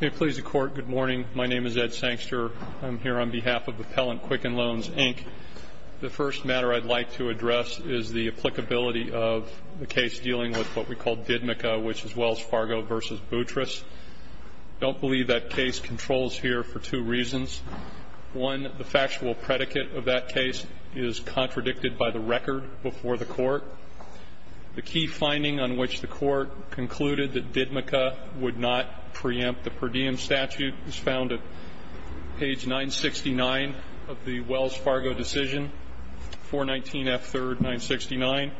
May it please the Court, good morning. My name is Ed Sankster. I'm here on behalf of Appellant Quicken Loans, Inc. The first matter I'd like to address is the applicability of the case dealing with what we call Didmica, which is Wells Fargo v. Boutros. I don't believe that case controls here for two reasons. One, the factual predicate of that case is contradicted by the record before the Court. The key finding on which the Court concluded that Didmica would not preempt the per diem statute was found at page 969 of the Wells Fargo decision, 419F3, 969.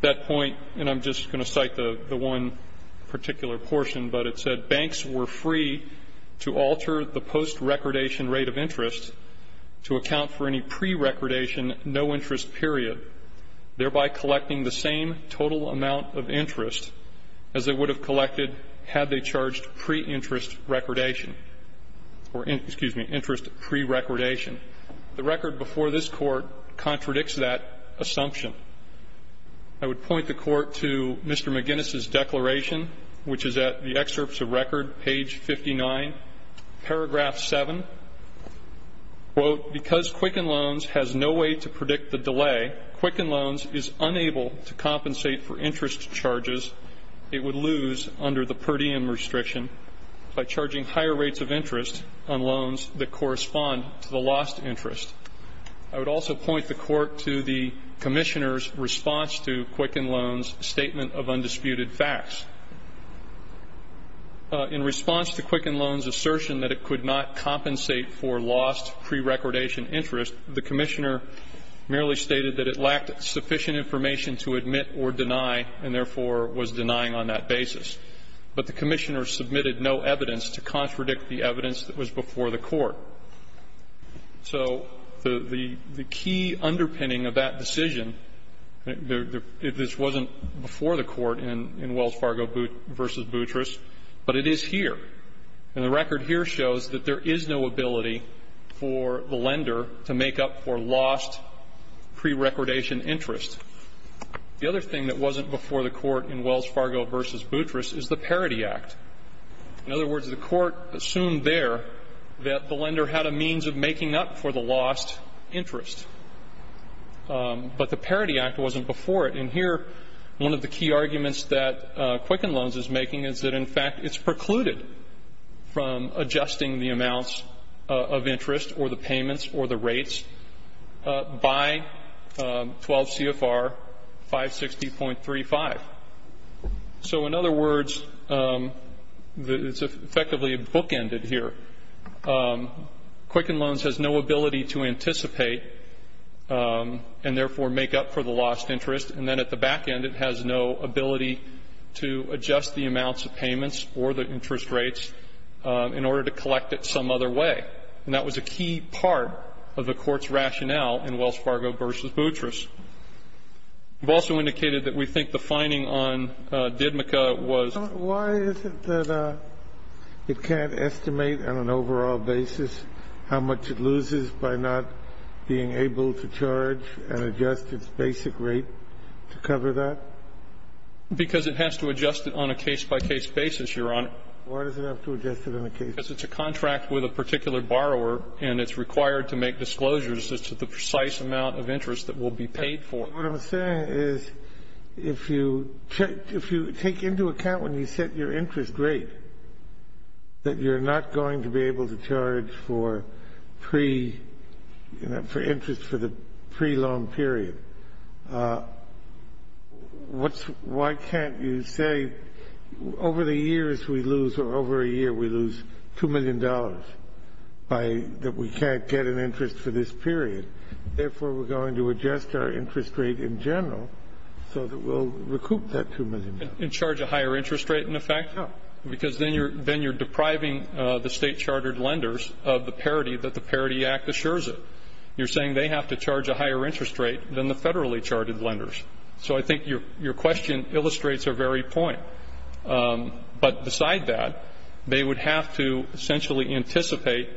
That point, and I'm just going to cite the one particular portion, but it said, banks were free to alter the post-recordation rate of interest to account for any pre-recordation no interest period, thereby collecting the same total amount of interest as they would have collected had they charged pre-interest recordation or, excuse me, interest pre-recordation. The record before this Court contradicts that assumption. I would point the Court to Mr. McGinnis' declaration, which is at the excerpts of record, page 59, paragraph 7, quote, because Quicken Loans has no way to predict the delay, Quicken Loans is unable to compensate for issues under the per diem restriction by charging higher rates of interest on loans that correspond to the lost interest. I would also point the Court to the Commissioner's response to Quicken Loans' statement of undisputed facts. In response to Quicken Loans' assertion that it could not compensate for lost pre-recordation interest, the Commissioner merely stated that it lacked sufficient information to admit or deny and, therefore, was denying on that basis. But the Commissioner submitted no evidence to contradict the evidence that was before the Court. So the key underpinning of that decision, if this wasn't before the Court in Wells Fargo v. Boutros, but it is here, and the record here shows that there is no ability for the lender to make up for lost pre-recordation interest. The other thing that wasn't before the Court in Wells Fargo v. Boutros is the Parity Act. In other words, the Court assumed there that the lender had a means of making up for the lost interest. But the Parity Act wasn't before it. And here, one of the key arguments that Quicken Loans is making is that, in fact, it's precluded from adjusting the amounts of interest or the payments or the rates by 12 CFR 560.35. So, in other words, it's effectively bookended here. Quicken Loans has no ability to anticipate and, therefore, make up for the lost interest, and then at the back end it has no ability to adjust the amounts of payments or the interest rates in order to collect it some other way. And that was a key part of the Court's rationale in Wells Fargo v. Boutros. We've also indicated that we think the finding on DIDMCA was Sotomayor, why is it that it can't estimate on an overall basis how much it loses by not being able to charge and adjust its basic rate to cover that? Because it has to adjust it on a case-by-case basis, Your Honor. Why does it have to adjust it on a case-by-case basis? Because it's a contract with a particular borrower, and it's required to make disclosures as to the precise amount of interest that will be paid for. But what I'm saying is, if you take into account when you set your interest rate, that you're not going to be able to charge for interest for the pre-loan period, why can't you say, over the years we lose, or over a year we lose $2 million, that we can't get an interest for this period? Therefore, we're going to adjust our interest rate in general so that we'll recoup that $2 million. Because then you're depriving the state-chartered lenders of the parity that the Parity Act assures it. You're saying they have to charge a higher interest rate than the federally-chartered lenders. So I think your question illustrates our very point. But beside that, they would have to essentially anticipate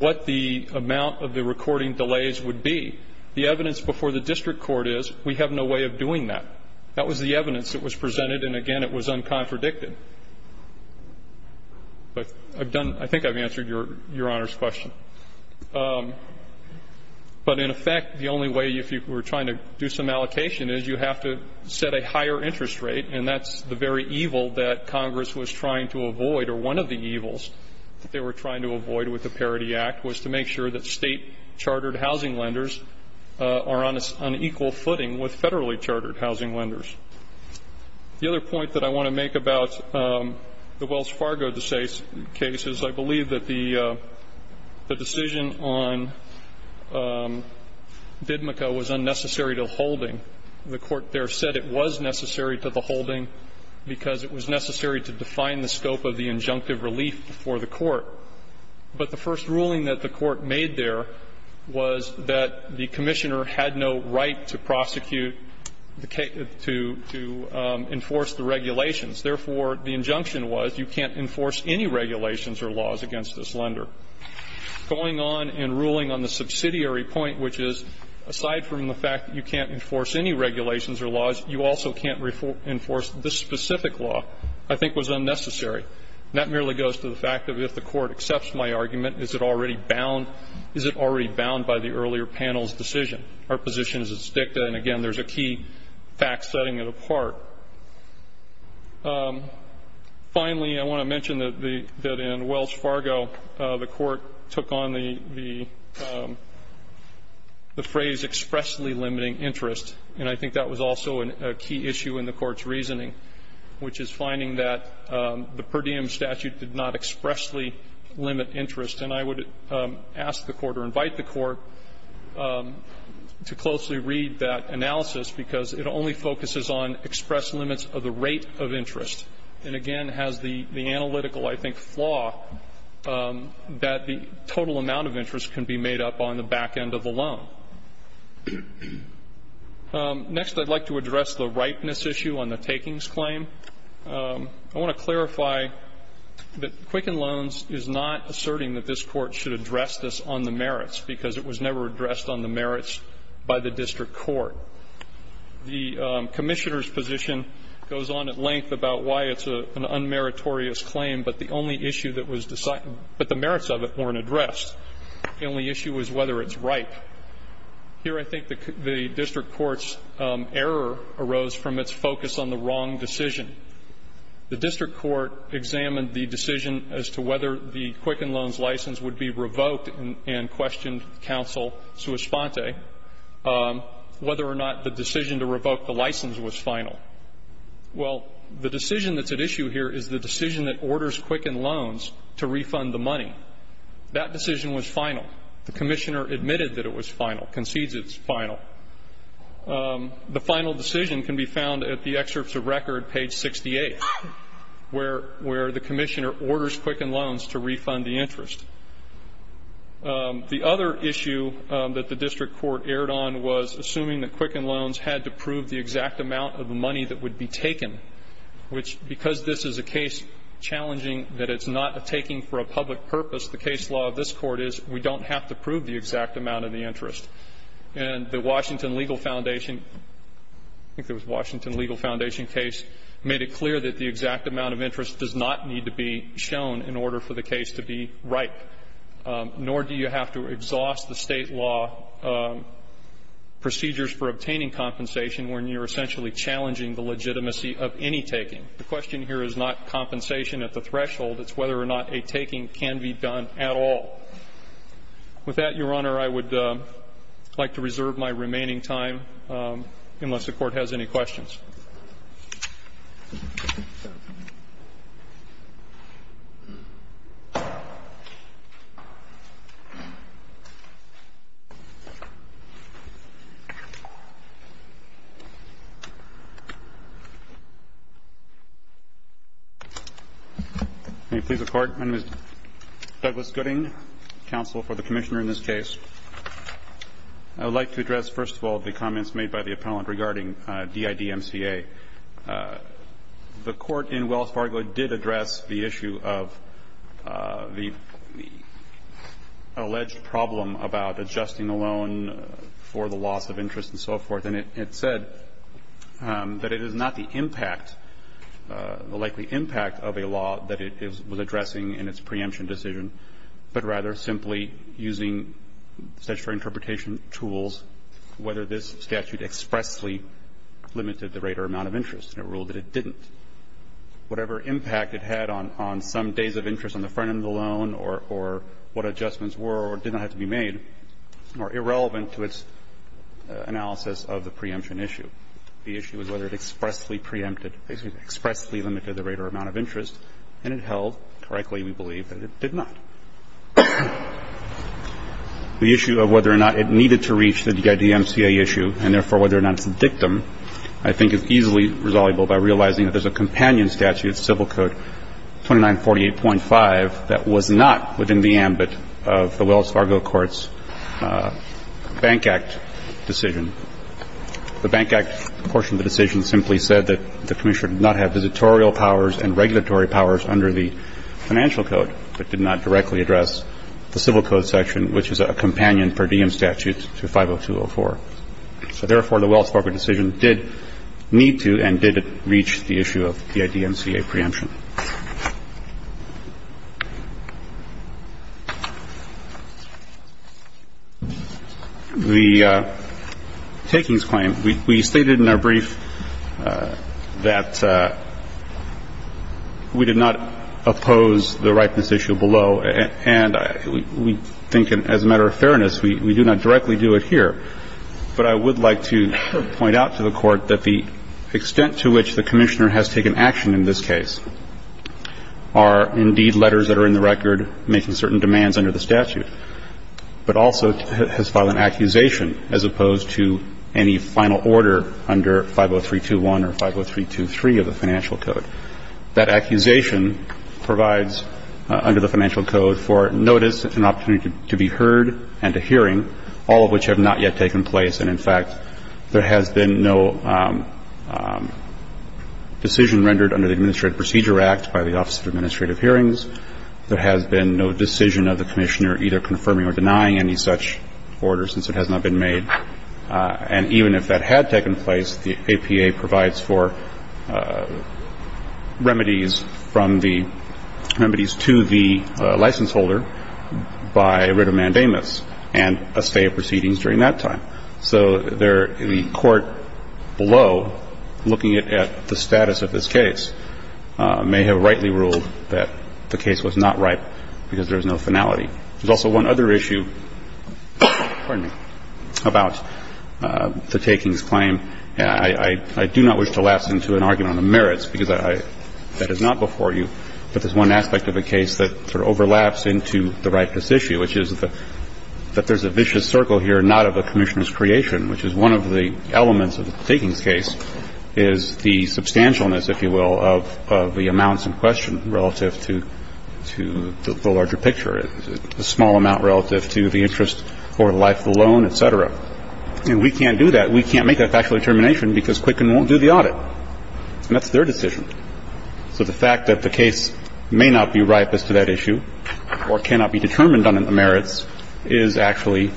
what the amount of the recording delays would be. The evidence before the district court is, we have no way of doing that. That was the evidence that was presented. And again, it was uncontradicted. But I've done, I think I've answered your Honor's question. But in effect, the only way, if you were trying to do some allocation, is you have to set a higher interest rate. And that's the very evil that Congress was trying to avoid, or one of the evils that they were trying to avoid with the Parity Act, was to make sure that state-chartered housing lenders are on equal footing with federally-chartered housing lenders. The other point that I want to make about the Wells Fargo case is I believe that the decision on BIDMCA was unnecessary to holding. The court there said it was necessary to the holding because it was necessary to define the scope of the injunctive relief before the court. But the first ruling that the court made there was that the commissioner had no right to prosecute, to enforce the regulations. Therefore, the injunction was you can't enforce any regulations or laws against this lender. Going on and ruling on the subsidiary point, which is, aside from the fact that you can't enforce any regulations or laws, you also can't enforce this specific law, I think was unnecessary. And that merely goes to the fact that if the court accepts my argument, is it already bound? Is it already bound by the earlier panel's decision? Our position is it's dicta. And, again, there's a key fact setting it apart. Finally, I want to mention that in Wells Fargo, the court took on the phrase expressly limiting interest. And I think that was also a key issue in the court's reasoning, which is finding that the per diem statute did not expressly limit interest. And I would ask the court or invite the court to closely read that analysis, because it only focuses on express limits of the rate of interest and, again, has the analytical, I think, flaw that the total amount of interest can be made up on the back end of a loan. Next, I'd like to address the ripeness issue on the takings claim. I want to clarify that Quicken Loans is not asserting that this Court should address this on the merits, because it was never addressed on the merits by the district court. The Commissioner's position goes on at length about why it's an unmeritorious claim, but the only issue that was decided, but the merits of it weren't addressed. The only issue was whether it's ripe. Here, I think the district court's error arose from its focus on the wrong decision. The district court examined the decision as to whether the Quicken Loans license would be revoked and questioned counsel sua sponte whether or not the decision to revoke the license was final. Well, the decision that's at issue here is the decision that orders Quicken Loans to refund the money. That decision was final. The Commissioner admitted that it was final, concedes it's final. The final decision can be found at the excerpts of record, page 68, where the Commissioner orders Quicken Loans to refund the interest. The other issue that the district court erred on was assuming that Quicken Loans had to prove the exact amount of the money that would be taken, which, because this is a case challenging that it's not a taking for a public purpose, the case law of this Court is we don't have to prove the exact amount of the interest. And the Washington Legal Foundation, I think it was Washington Legal Foundation case, made it clear that the exact amount of interest does not need to be shown in order for the case to be ripe, nor do you have to exhaust the State law procedures for obtaining compensation when you're essentially challenging the legitimacy of any taking. The question here is not compensation at the threshold. It's whether or not a taking can be done at all. With that, Your Honor, I would like to reserve my remaining time unless the Court has any questions. May it please the Court. My name is Douglas Gooding, counsel for the Commissioner in this case. I would like to address, first of all, the comments made by the appellant regarding DIDMCA. The Court in Wells Fargo did address the issue of the alleged problem about adjusting the loan for the loss of interest and so forth. And it said that it is not the impact, the likely impact of a law that it was addressing in its preemption decision, but rather simply using statutory interpretation tools, whether this statute expressly limited the rate or amount of interest, and it ruled that it didn't. Whatever impact it had on some days of interest on the front end of the loan or what adjustments were or did not have to be made are irrelevant to its analysis of the preemption issue. The issue is whether it expressly preempted or expressly limited the rate or amount of interest, and it held correctly, we believe, that it did not. The issue of whether or not it needed to reach the DIDMCA issue, and therefore whether or not it's a dictum, I think is easily resolvable by realizing that there's a companion statute, Civil Code 2948.5, that was not within the ambit of the Wells Fargo Court's Bank Act decision. The Bank Act portion of the decision simply said that the Commissioner did not have the right to directly address the Civil Code section, which is a companion per diem statute to 50204. So therefore, the Wells Fargo decision did need to and did reach the issue of DIDMCA preemption. The takings claim, we stated in our brief that we did not oppose the ripeness And we think, as a matter of fairness, we do not directly do it here. But I would like to point out to the Court that the extent to which the Commissioner has taken action in this case are indeed letters that are in the record making certain demands under the statute, but also has filed an accusation as opposed to any final order under 50321 or 50323 of the Financial Code. That accusation provides under the Financial Code for notice and opportunity to be heard and to hearing, all of which have not yet taken place. And, in fact, there has been no decision rendered under the Administrative Procedure Act by the Office of Administrative Hearings. There has been no decision of the Commissioner either confirming or denying any such order since it has not been made. And even if that had taken place, the APA provides for remedies from the remedies to the license holder by writ of mandamus and a stay of proceedings during that time. So there the Court below, looking at the status of this case, may have rightly ruled that the case was not ripe because there is no finality. There's also one other issue, pardon me, about the takings claim. I do not wish to lapse into an argument on the merits because that is not before you, but there's one aspect of the case that sort of overlaps into the ripeness issue, which is that there's a vicious circle here not of a Commissioner's creation, which is one of the elements of the takings case is the substantialness, if you will, of the amounts in question relative to the larger picture, the small amount relative to the interest for life alone, et cetera. And we can't do that. We can't make that factual determination because Quicken won't do the audit. And that's their decision. So the fact that the case may not be ripe as to that issue or cannot be determined on the merits is actually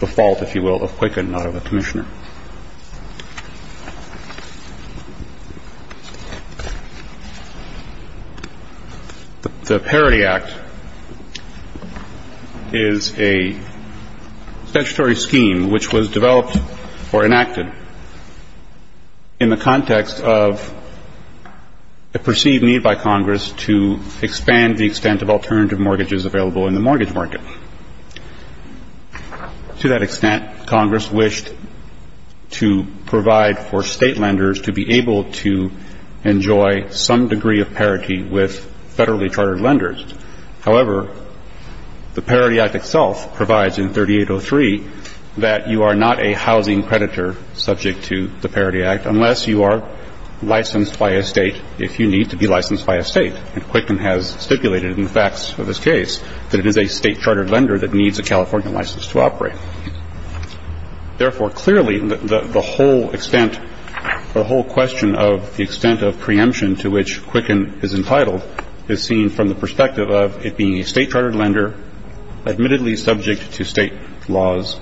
the fault, if you will, of Quicken, not of a Commissioner. The Parity Act is a statutory scheme which was developed or enacted in the context of a perceived need by Congress to expand the extent of alternative mortgages available in the mortgage market. To that extent, Congress wished to provide for State lenders to be able to enjoy some degree of parity with federally chartered lenders. However, the Parity Act itself provides in 3803 that you are not a housing creditor subject to the Parity Act unless you are licensed by a State, if you need to be licensed by a State. And Quicken has stipulated in the facts of this case that it is a State chartered lender that needs a California license to operate. Therefore, clearly, the whole extent or whole question of the extent of preemption to which Quicken is entitled is seen from the perspective of it being a State chartered lender admittedly subject to State laws,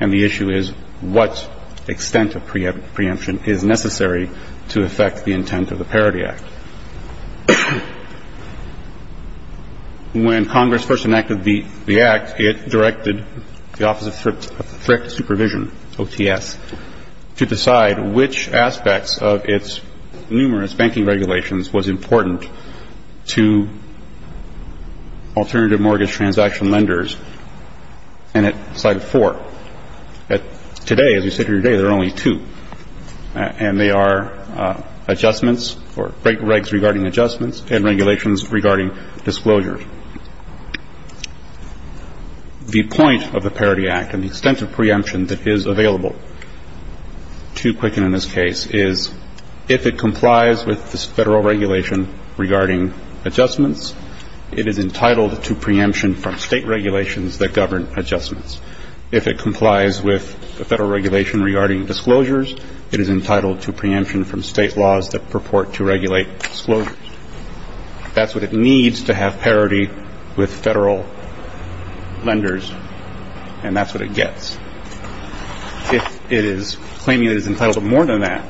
and the issue is what extent of preemption is necessary to affect the intent of the Parity Act. When Congress first enacted the Act, it directed the Office of Thrift Supervision, OTS, to decide which aspects of its numerous banking regulations was important to alternative mortgage transaction lenders, and it cited four. Today, as we sit here today, there are only two. And they are adjustments or regs regarding adjustments and regulations regarding disclosures. The point of the Parity Act and the extent of preemption that is available to Quicken in this case is if it complies with the Federal regulation regarding adjustments, it is entitled to preemption from State regulations that govern adjustments. If it complies with the Federal regulation regarding disclosures, it is entitled to preemption from State laws that purport to regulate disclosures. That's what it needs to have parity with Federal lenders, and that's what it gets. If it is claiming it is entitled to more than that,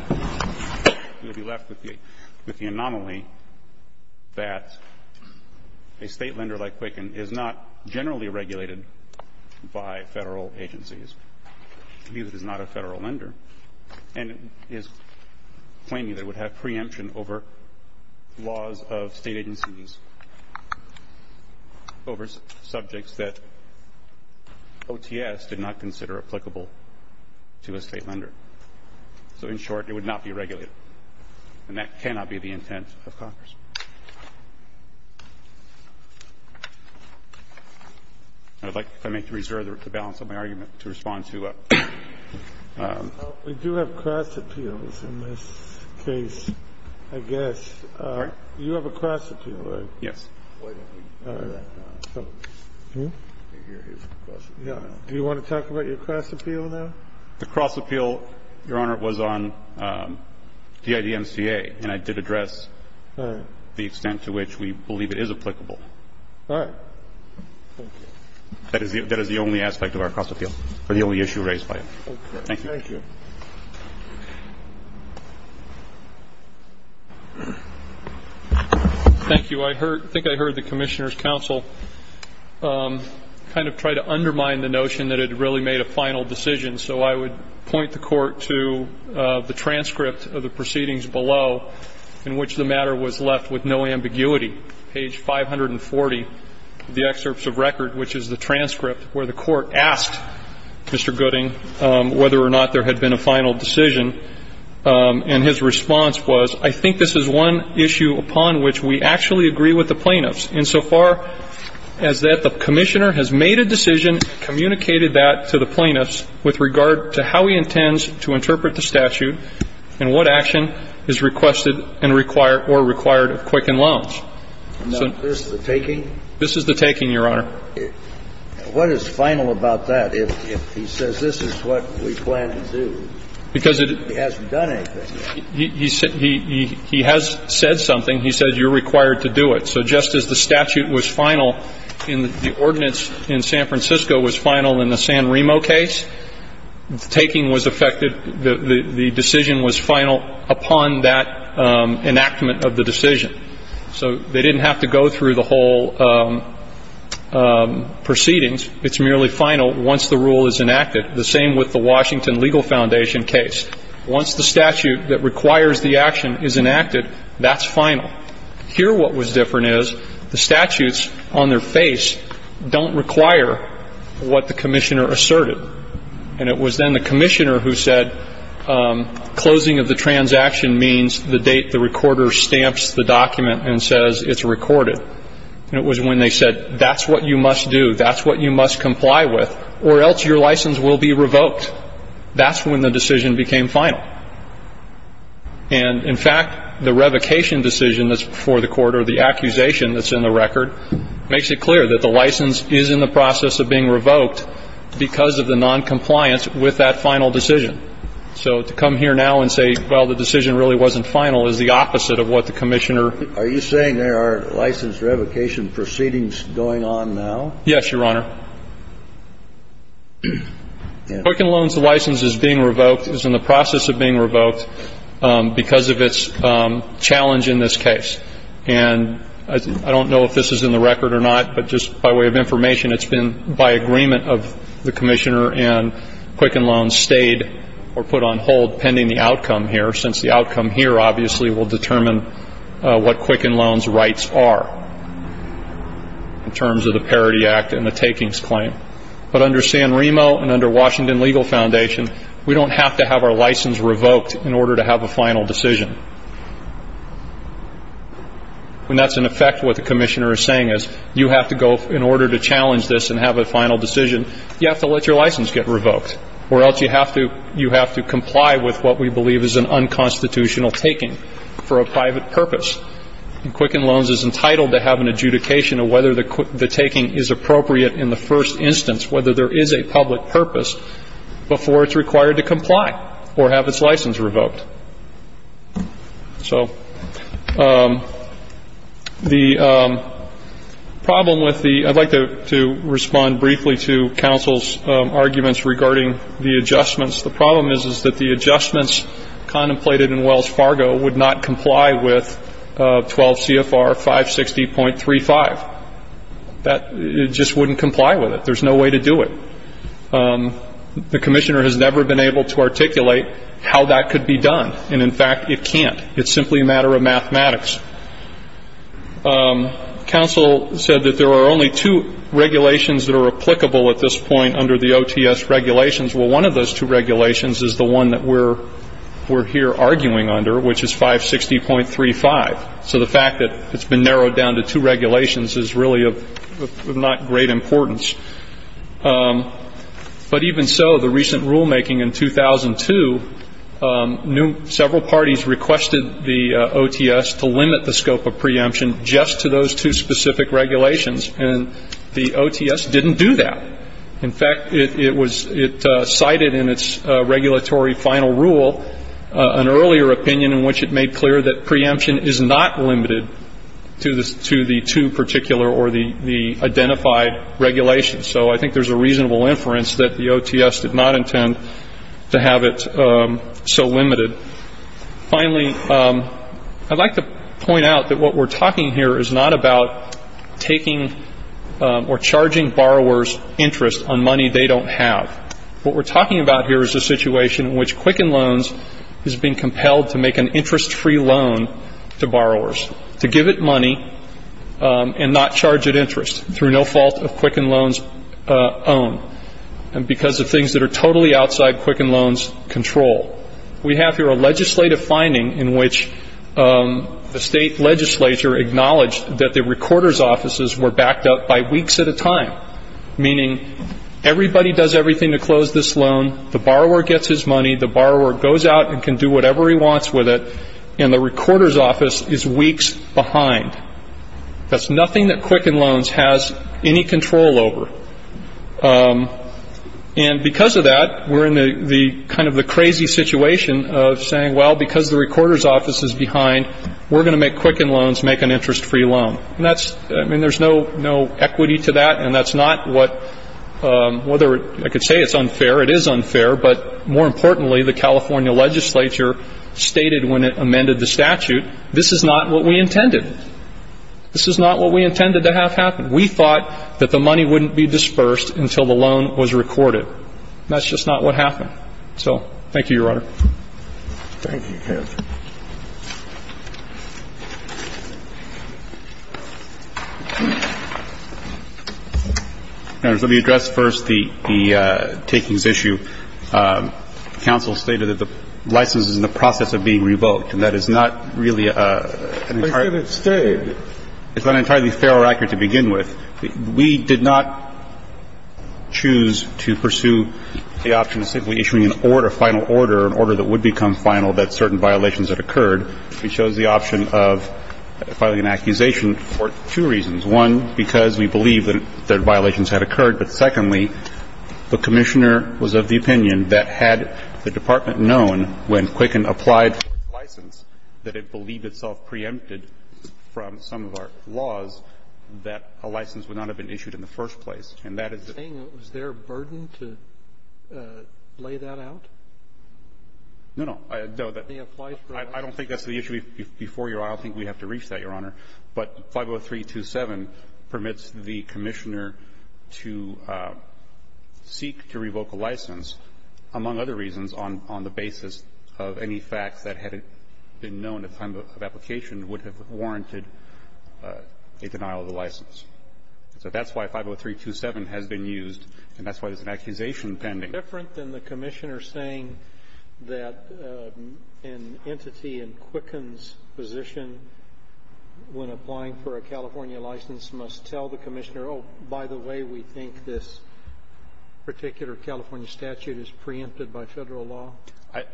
we would be left with the anomaly that a State lender like Quicken is not generally regulated by Federal agencies, because it is not a Federal lender, and is claiming that it would have preemption over laws of State agencies over subjects that OTS did not consider applicable to a State lender. So in short, it would not be regulated. And that cannot be the intent of Congress. I would like, if I may, to reserve the balance of my argument to respond to a ---- We do have cross appeals in this case, I guess. You have a cross appeal, right? Yes. Do you want to talk about your cross appeal now? The cross appeal, Your Honor, was on DIDMCA, and I did address the extent to which we believe it is applicable. All right. Thank you. That is the only aspect of our cross appeal, or the only issue raised by it. Thank you. Thank you. Thank you. I think I heard the Commissioner's counsel kind of try to undermine the notion that it really made a final decision. So I would point the Court to the transcript of the proceedings below, in which the matter was left with no ambiguity. Page 540 of the excerpts of record, which is the transcript where the Court asked Mr. Gooding whether or not there had been a final decision, and his response was, I think this is one issue upon which we actually agree with the plaintiffs insofar as that the Commissioner has made a decision, communicated that to the plaintiffs with regard to how he intends to interpret the statute and what action is requested and required or required of Quicken Loans. Now, is this the taking? This is the taking, Your Honor. What is final about that? If he says this is what we plan to do, he hasn't done anything yet. He has said something. He said you're required to do it. So just as the statute was final in the ordinance in San Francisco was final in the San Remo case, the taking was effective, the decision was final upon that enactment of the decision. So they didn't have to go through the whole proceedings. It's merely final once the rule is enacted. The same with the Washington Legal Foundation case. Once the statute that requires the action is enacted, that's final. Here what was different is the statutes on their face don't require what the Commissioner asserted. And it was then the Commissioner who said closing of the transaction means the date the recorder stamps the document and says it's recorded. And it was when they said that's what you must do, that's what you must comply with, or else your license will be revoked. That's when the decision became final. And, in fact, the revocation decision that's before the court or the accusation that's in the record makes it clear that the license is in the process of being revoked because of the noncompliance with that final decision. So to come here now and say, well, the decision really wasn't final, is the opposite of what the Commissioner. Are you saying there are license revocation proceedings going on now? Yes, Your Honor. No. Quicken Loans license is being revoked, is in the process of being revoked, because of its challenge in this case. And I don't know if this is in the record or not, but just by way of information, it's been by agreement of the Commissioner and Quicken Loans stayed or put on hold pending the outcome here, since the outcome here, obviously, will determine what Quicken Loans' rights are in terms of the Parity Act and the takings claim. But under San Remo and under Washington Legal Foundation, we don't have to have our license revoked in order to have a final decision. When that's in effect, what the Commissioner is saying is you have to go, in order to challenge this and have a final decision, you have to let your license get revoked, or else you have to comply with what we believe is an unconstitutional taking for a private purpose. And Quicken Loans is entitled to have an adjudication of whether the taking is appropriate in the first instance, whether there is a public purpose, before it's required to comply or have its license revoked. So the problem with the ‑‑ I'd like to respond briefly to counsel's arguments regarding the adjustments. The problem is that the adjustments contemplated in Wells Fargo would not comply with 12 CFR 560.35. It just wouldn't comply with it. There's no way to do it. The Commissioner has never been able to articulate how that could be done. And, in fact, it can't. It's simply a matter of mathematics. Counsel said that there are only two regulations that are applicable at this point under the OTS regulations. Well, one of those two regulations is the one that we're here arguing under, which is 560.35. So the fact that it's been narrowed down to two regulations is really of not great importance. But even so, the recent rulemaking in 2002, several parties requested the OTS to limit the scope of preemption just to those two specific regulations. And the OTS didn't do that. In fact, it cited in its regulatory final rule an earlier opinion in which it made clear that preemption is not limited to the two particular or the identified regulations. So I think there's a reasonable inference that the OTS did not intend to have it so limited. Finally, I'd like to point out that what we're talking here is not about taking or charging borrowers interest on money they don't have. What we're talking about here is a situation in which Quicken Loans is being compelled to make an interest-free loan to borrowers, to give it money and not charge it interest through no fault of Quicken Loans' own and because of things that are totally outside Quicken Loans' control. We have here a legislative finding in which the state legislature acknowledged that the recorder's offices were backed up by weeks at a time, meaning everybody does everything to close this loan, the borrower gets his money, the borrower goes out and can do whatever he wants with it, and the recorder's office is weeks behind. That's nothing that Quicken Loans has any control over. And because of that, we're in kind of the crazy situation of saying, well, because the recorder's office is behind, we're going to make Quicken Loans make an interest-free loan. And that's, I mean, there's no equity to that, and that's not what, whether I could say it's unfair, it is unfair, but more importantly, the California legislature stated when it amended the statute, this is not what we intended. This is not what we intended to have happen. We thought that the money wouldn't be dispersed until the loan was recorded. That's just not what happened. So thank you, Your Honor. Thank you, counsel. Let me address first the takings issue. Counsel stated that the license is in the process of being revoked, and that is not really an entirely ---- But it's stated. It's not entirely fair or accurate to begin with. We did not choose to pursue the option of simply issuing an order, a final order, an order that would become final that certain violations had occurred. We chose the option of filing an accusation for two reasons. One, because we believe that violations had occurred. But secondly, the Commissioner was of the opinion that had the Department known when Quicken applied for the license, that it believed itself preempted from some of our laws that a license would not have been issued in the first place, and that is the thing. Was there a burden to lay that out? No, no. I don't think that's the issue before you. I don't think we have to reach that, Your Honor. But 50327 permits the Commissioner to seek to revoke a license, among other reasons, on the basis of any facts that had been known at the time of application would have warranted a denial of the license. So that's why 50327 has been used, and that's why there's an accusation pending. It's different than the Commissioner saying that an entity in Quicken's position when applying for a California license must tell the Commissioner, oh, by the way, we think this particular California statute is preempted by Federal law.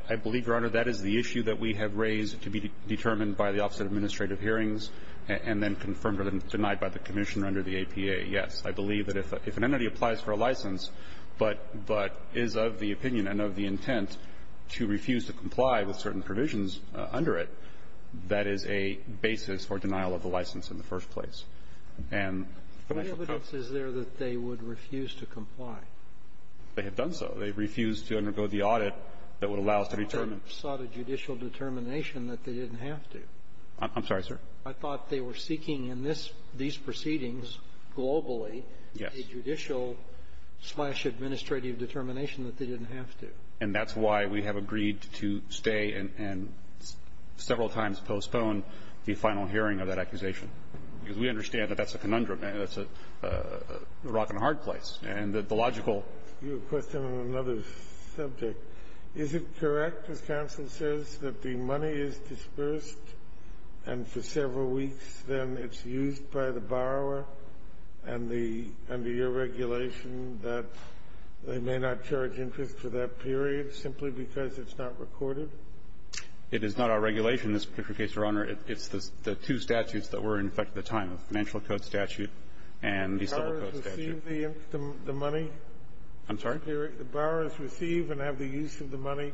I believe, Your Honor, that is the issue that we have raised to be determined by the Office of Administrative Hearings and then confirmed or denied by the Commissioner under the APA, yes. I believe that if an entity applies for a license but is of the opinion and of the intent to refuse to comply with certain provisions under it, that is a basis for denial of the license in the first place. And the Financial Code ---- The evidence is there that they would refuse to comply. They have done so. They refused to undergo the audit that would allow us to determine ---- They sought a judicial determination that they didn't have to. I'm sorry, sir. I thought they were seeking in this ---- these proceedings globally a judicial slash administrative determination that they didn't have to. And that's why we have agreed to stay and several times postpone the final hearing of that accusation. Because we understand that that's a conundrum. That's a rock-and-hard place. And the logical ---- You have a question on another subject. Is it correct, as counsel says, that the money is dispersed and for several weeks then it's used by the borrower and the under your regulation that they may not charge interest for that period simply because it's not recorded? It is not our regulation in this particular case, Your Honor. It's the two statutes that were in effect at the time, the Financial Code statute and the Civil Code statute. Do the borrowers receive the money? I'm sorry? Do the borrowers receive and have the use of the money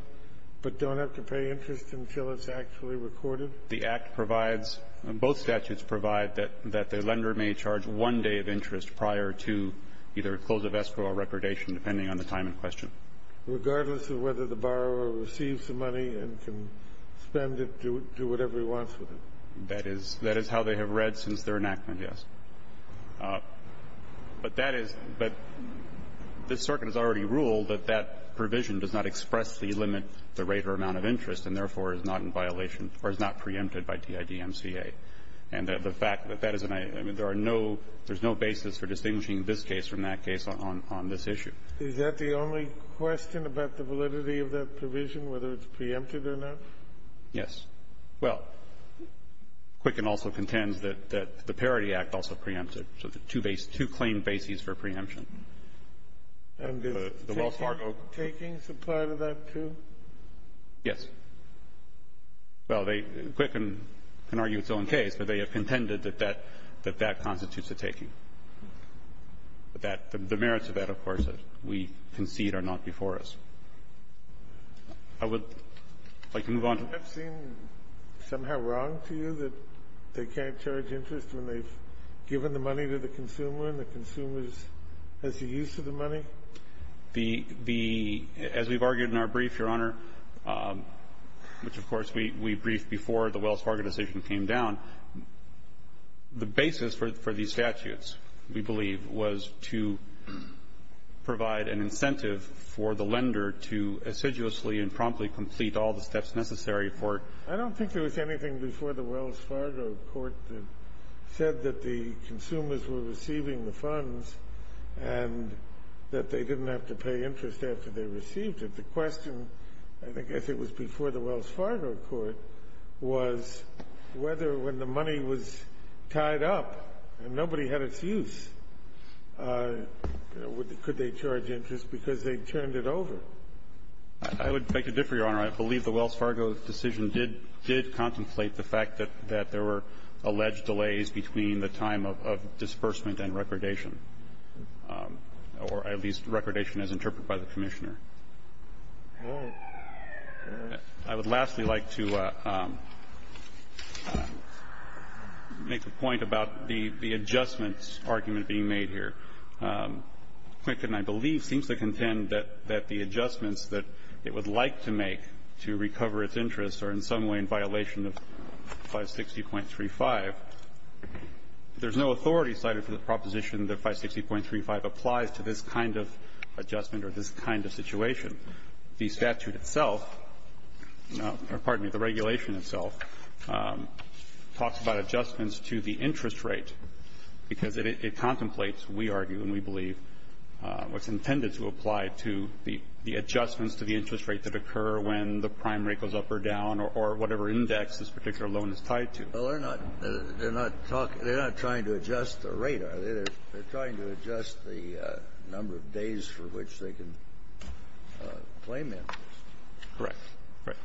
but don't have to pay interest until it's actually recorded? The Act provides ---- both statutes provide that the lender may charge one day of interest prior to either close of escrow or recordation, depending on the time in question. Regardless of whether the borrower receives the money and can spend it, do whatever he wants with it. That is how they have read since their enactment, yes. But that is ---- but this Circuit has already ruled that that provision does not expressly limit the rate or amount of interest and, therefore, is not in violation or is not preempted by DIDMCA. And the fact that that is an ---- I mean, there are no ---- there's no basis for distinguishing this case from that case on this issue. Is that the only question about the validity of that provision, whether it's preempted or not? Yes. Well, Quicken also contends that the Parity Act also preempts it. So there are two claim bases for preemption. And the Wells Fargo ---- And the taking is a part of that, too? Yes. Well, they ---- Quicken can argue its own case, but they have contended that that constitutes a taking, that the merits of that, of course, that we concede are not before us. I would like to move on to ---- Have you ever seen somehow wrong to you that they can't charge interest when they've given the money to the consumer and the consumer has the use of the money? The ---- as we've argued in our brief, Your Honor, which, of course, we briefed before the Wells Fargo decision came down, the basis for these statutes, we believe, was to provide an incentive for the lender to assiduously and promptly complete all the steps necessary for it. I don't think there was anything before the Wells Fargo court that said that the consumers were receiving the funds and that they didn't have to pay interest after they received it. The question, I think, I think it was before the Wells Fargo court, was whether when the money was tied up and nobody had its use, you know, could they charge interest because they turned it over. I would beg to differ, Your Honor. I believe the Wells Fargo decision did contemplate the fact that there were alleged delays between the time of disbursement and recordation, or at least recordation as interpreted by the Commissioner. I would lastly like to make a point about the adjustments argument being made here. Quicken, I believe, seems to contend that the adjustments that it would like to make to recover its interest are in some way in violation of 560.35. There's no authority cited for the proposition that 560.35 applies to this kind of adjustment or this kind of situation. The statute itself or, pardon me, the regulation itself talks about adjustments to the interest rate because it contemplates, we argue and we believe, what's intended to apply to the adjustments to the interest rate that occur when the prime rate goes up or down or whatever index this particular loan is tied to. They're trying to adjust the number of days for which they can claim interest. Correct.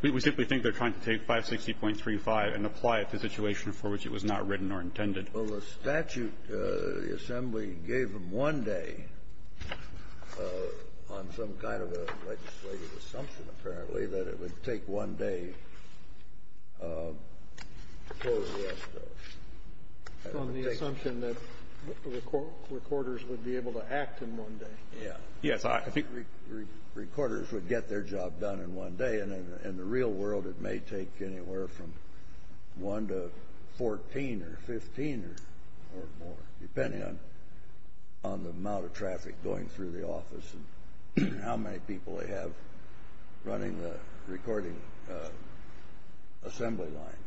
We simply think they're trying to take 560.35 and apply it to the situation for which it was not written or intended. Well, the statute, the assembly gave them one day on some kind of a legislative assumption, apparently, that it would take one day for the rest of it. From the assumption that recorders would be able to act in one day. Yes. I think recorders would get their job done in one day. In the real world, it may take anywhere from one to 14 or 15 or more, depending on the amount of traffic going through the office and how many people they have running the recording assembly line.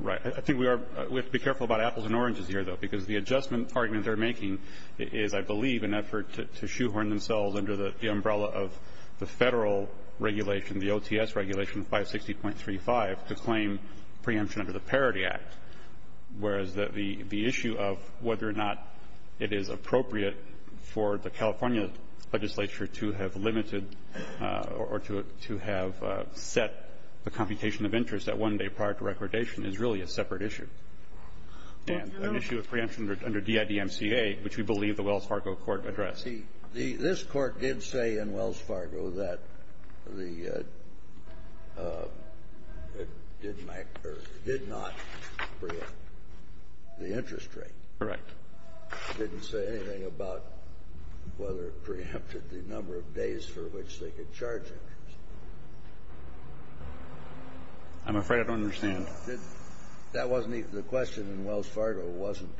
Right. I think we have to be careful about apples and oranges here, though, because the adjustment argument they're making is, I believe, an effort to shoehorn themselves under the umbrella of the Federal regulation, the OTS regulation, 560.35, to claim preemption under the Parity Act. Whereas the issue of whether or not it is appropriate for the California legislature to have limited or to have set the computation of interest at one day prior to recordation is really a separate issue and an issue of preemption under DIDMCA, which we believe the Wells Fargo court addressed. This court did say in Wells Fargo that it did not preempt the interest rate. Correct. It didn't say anything about whether it preempted the number of days for which they could charge interest. I'm afraid I don't understand. That wasn't the question in Wells Fargo, wasn't,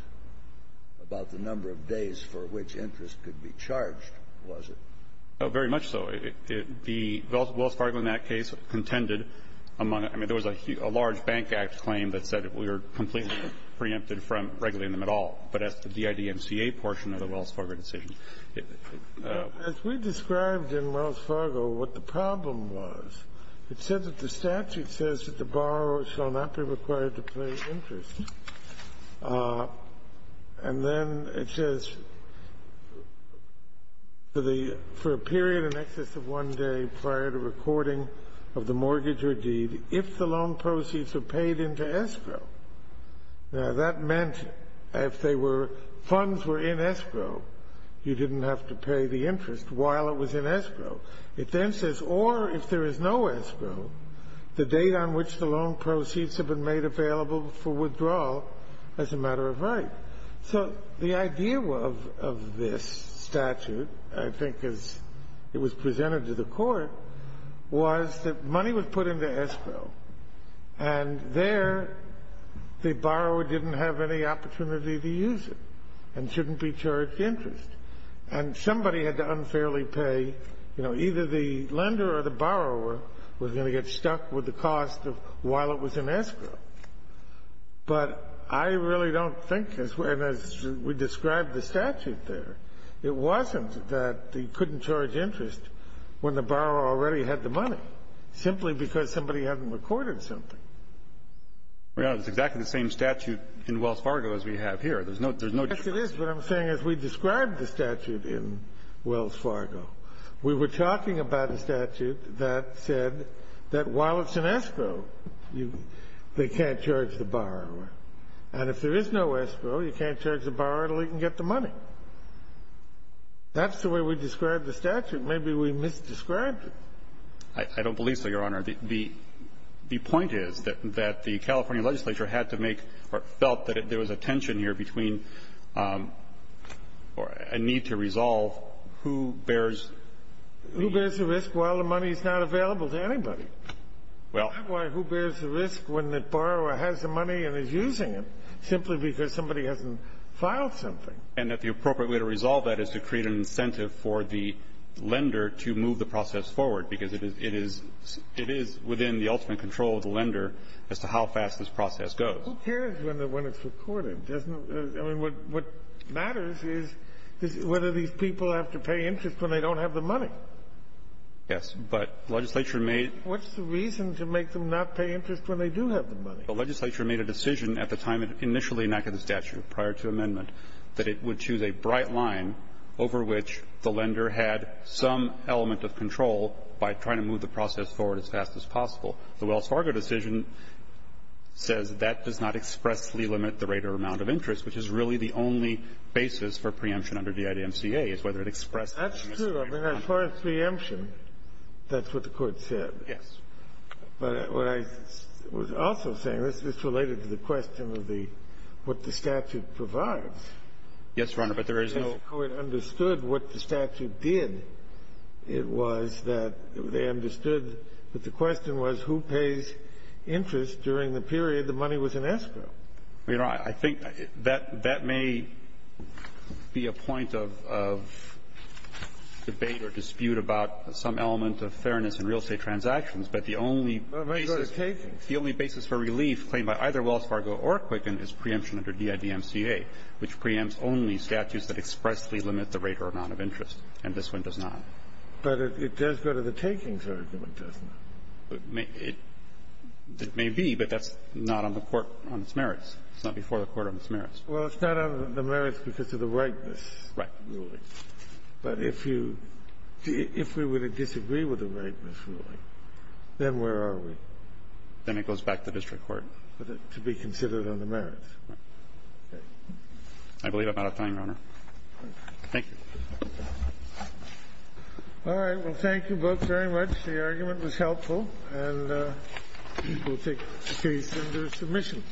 about the number of days for which interest could be charged, was it? Oh, very much so. The Wells Fargo in that case contended among them. I mean, there was a large Bank Act claim that said we were completely preempted from regulating them at all. But as the DIDMCA portion of the Wells Fargo decision. As we described in Wells Fargo what the problem was, it said that the statute says that the borrower shall not be required to pay interest. And then it says for a period in excess of one day prior to recording of the mortgage or deed, if the loan proceeds are paid into escrow. Now, that meant if they were funds were in escrow, you didn't have to pay the interest while it was in escrow. It then says or if there is no escrow, the date on which the loan proceeds have been made available for withdrawal as a matter of right. So the idea of this statute, I think as it was presented to the court, was that money was put into escrow. And there the borrower didn't have any opportunity to use it and shouldn't be charged interest. And somebody had to unfairly pay, you know, either the lender or the borrower was going to get stuck with the cost of while it was in escrow. But I really don't think as we described the statute there, it wasn't that they couldn't charge interest when the borrower already had the money, simply because somebody hadn't recorded something. Your Honor, it's exactly the same statute in Wells Fargo as we have here. There's no difference. Yes, it is. But I'm saying as we described the statute in Wells Fargo, we were talking about a statute that said that while it's in escrow, they can't charge the borrower. And if there is no escrow, you can't charge the borrower until he can get the money. That's the way we described the statute. Maybe we misdescribed it. I don't believe so, Your Honor. The point is that the California legislature had to make or felt that there was a tension here between a need to resolve who bears the risk. Who bears the risk? Well, the money is not available to anybody. Well. That's why who bears the risk when the borrower has the money and is using it, simply because somebody hasn't filed something. And that the appropriate way to resolve that is to create an incentive for the lender to move the process forward, because it is within the ultimate control of the lender as to how fast this process goes. Who cares when it's recorded? I mean, what matters is whether these people have to pay interest when they don't have the money. Yes. But the legislature made What's the reason to make them not pay interest when they do have the money? The legislature made a decision at the time it initially enacted the statute, prior to amendment, that it would choose a bright line over which the lender had some element of control by trying to move the process forward as fast as possible. The Wells Fargo decision says that does not expressly limit the rate or amount of interest, which is really the only basis for preemption under DIDMCA, is whether it expresses interest. That's true. As far as preemption, that's what the Court said. Yes. But what I was also saying, this is related to the question of the what the statute provides. Yes, Your Honor. But there is no So the Court understood what the statute did. It was that they understood that the question was who pays interest during the period the money was in escrow. I think that may be a point of debate or dispute about some element of fairness in real estate transactions, but the only basis for relief claimed by either Wells Fargo or Quicken is preemption under DIDMCA, which preempts only statutes that expressly limit the rate or amount of interest, and this one does not. But it does go to the takings argument, doesn't it? It may be, but that's not on the Court on its merits. It's not before the Court on its merits. Well, it's not on the merits because of the whiteness. Right. But if you – if we were to disagree with the whiteness ruling, then where are we? Then it goes back to district court. To be considered on the merits. Right. I believe I'm out of time, Your Honor. Thank you. All right. Well, thank you both very much. The argument was helpful, and we'll take the case into submission.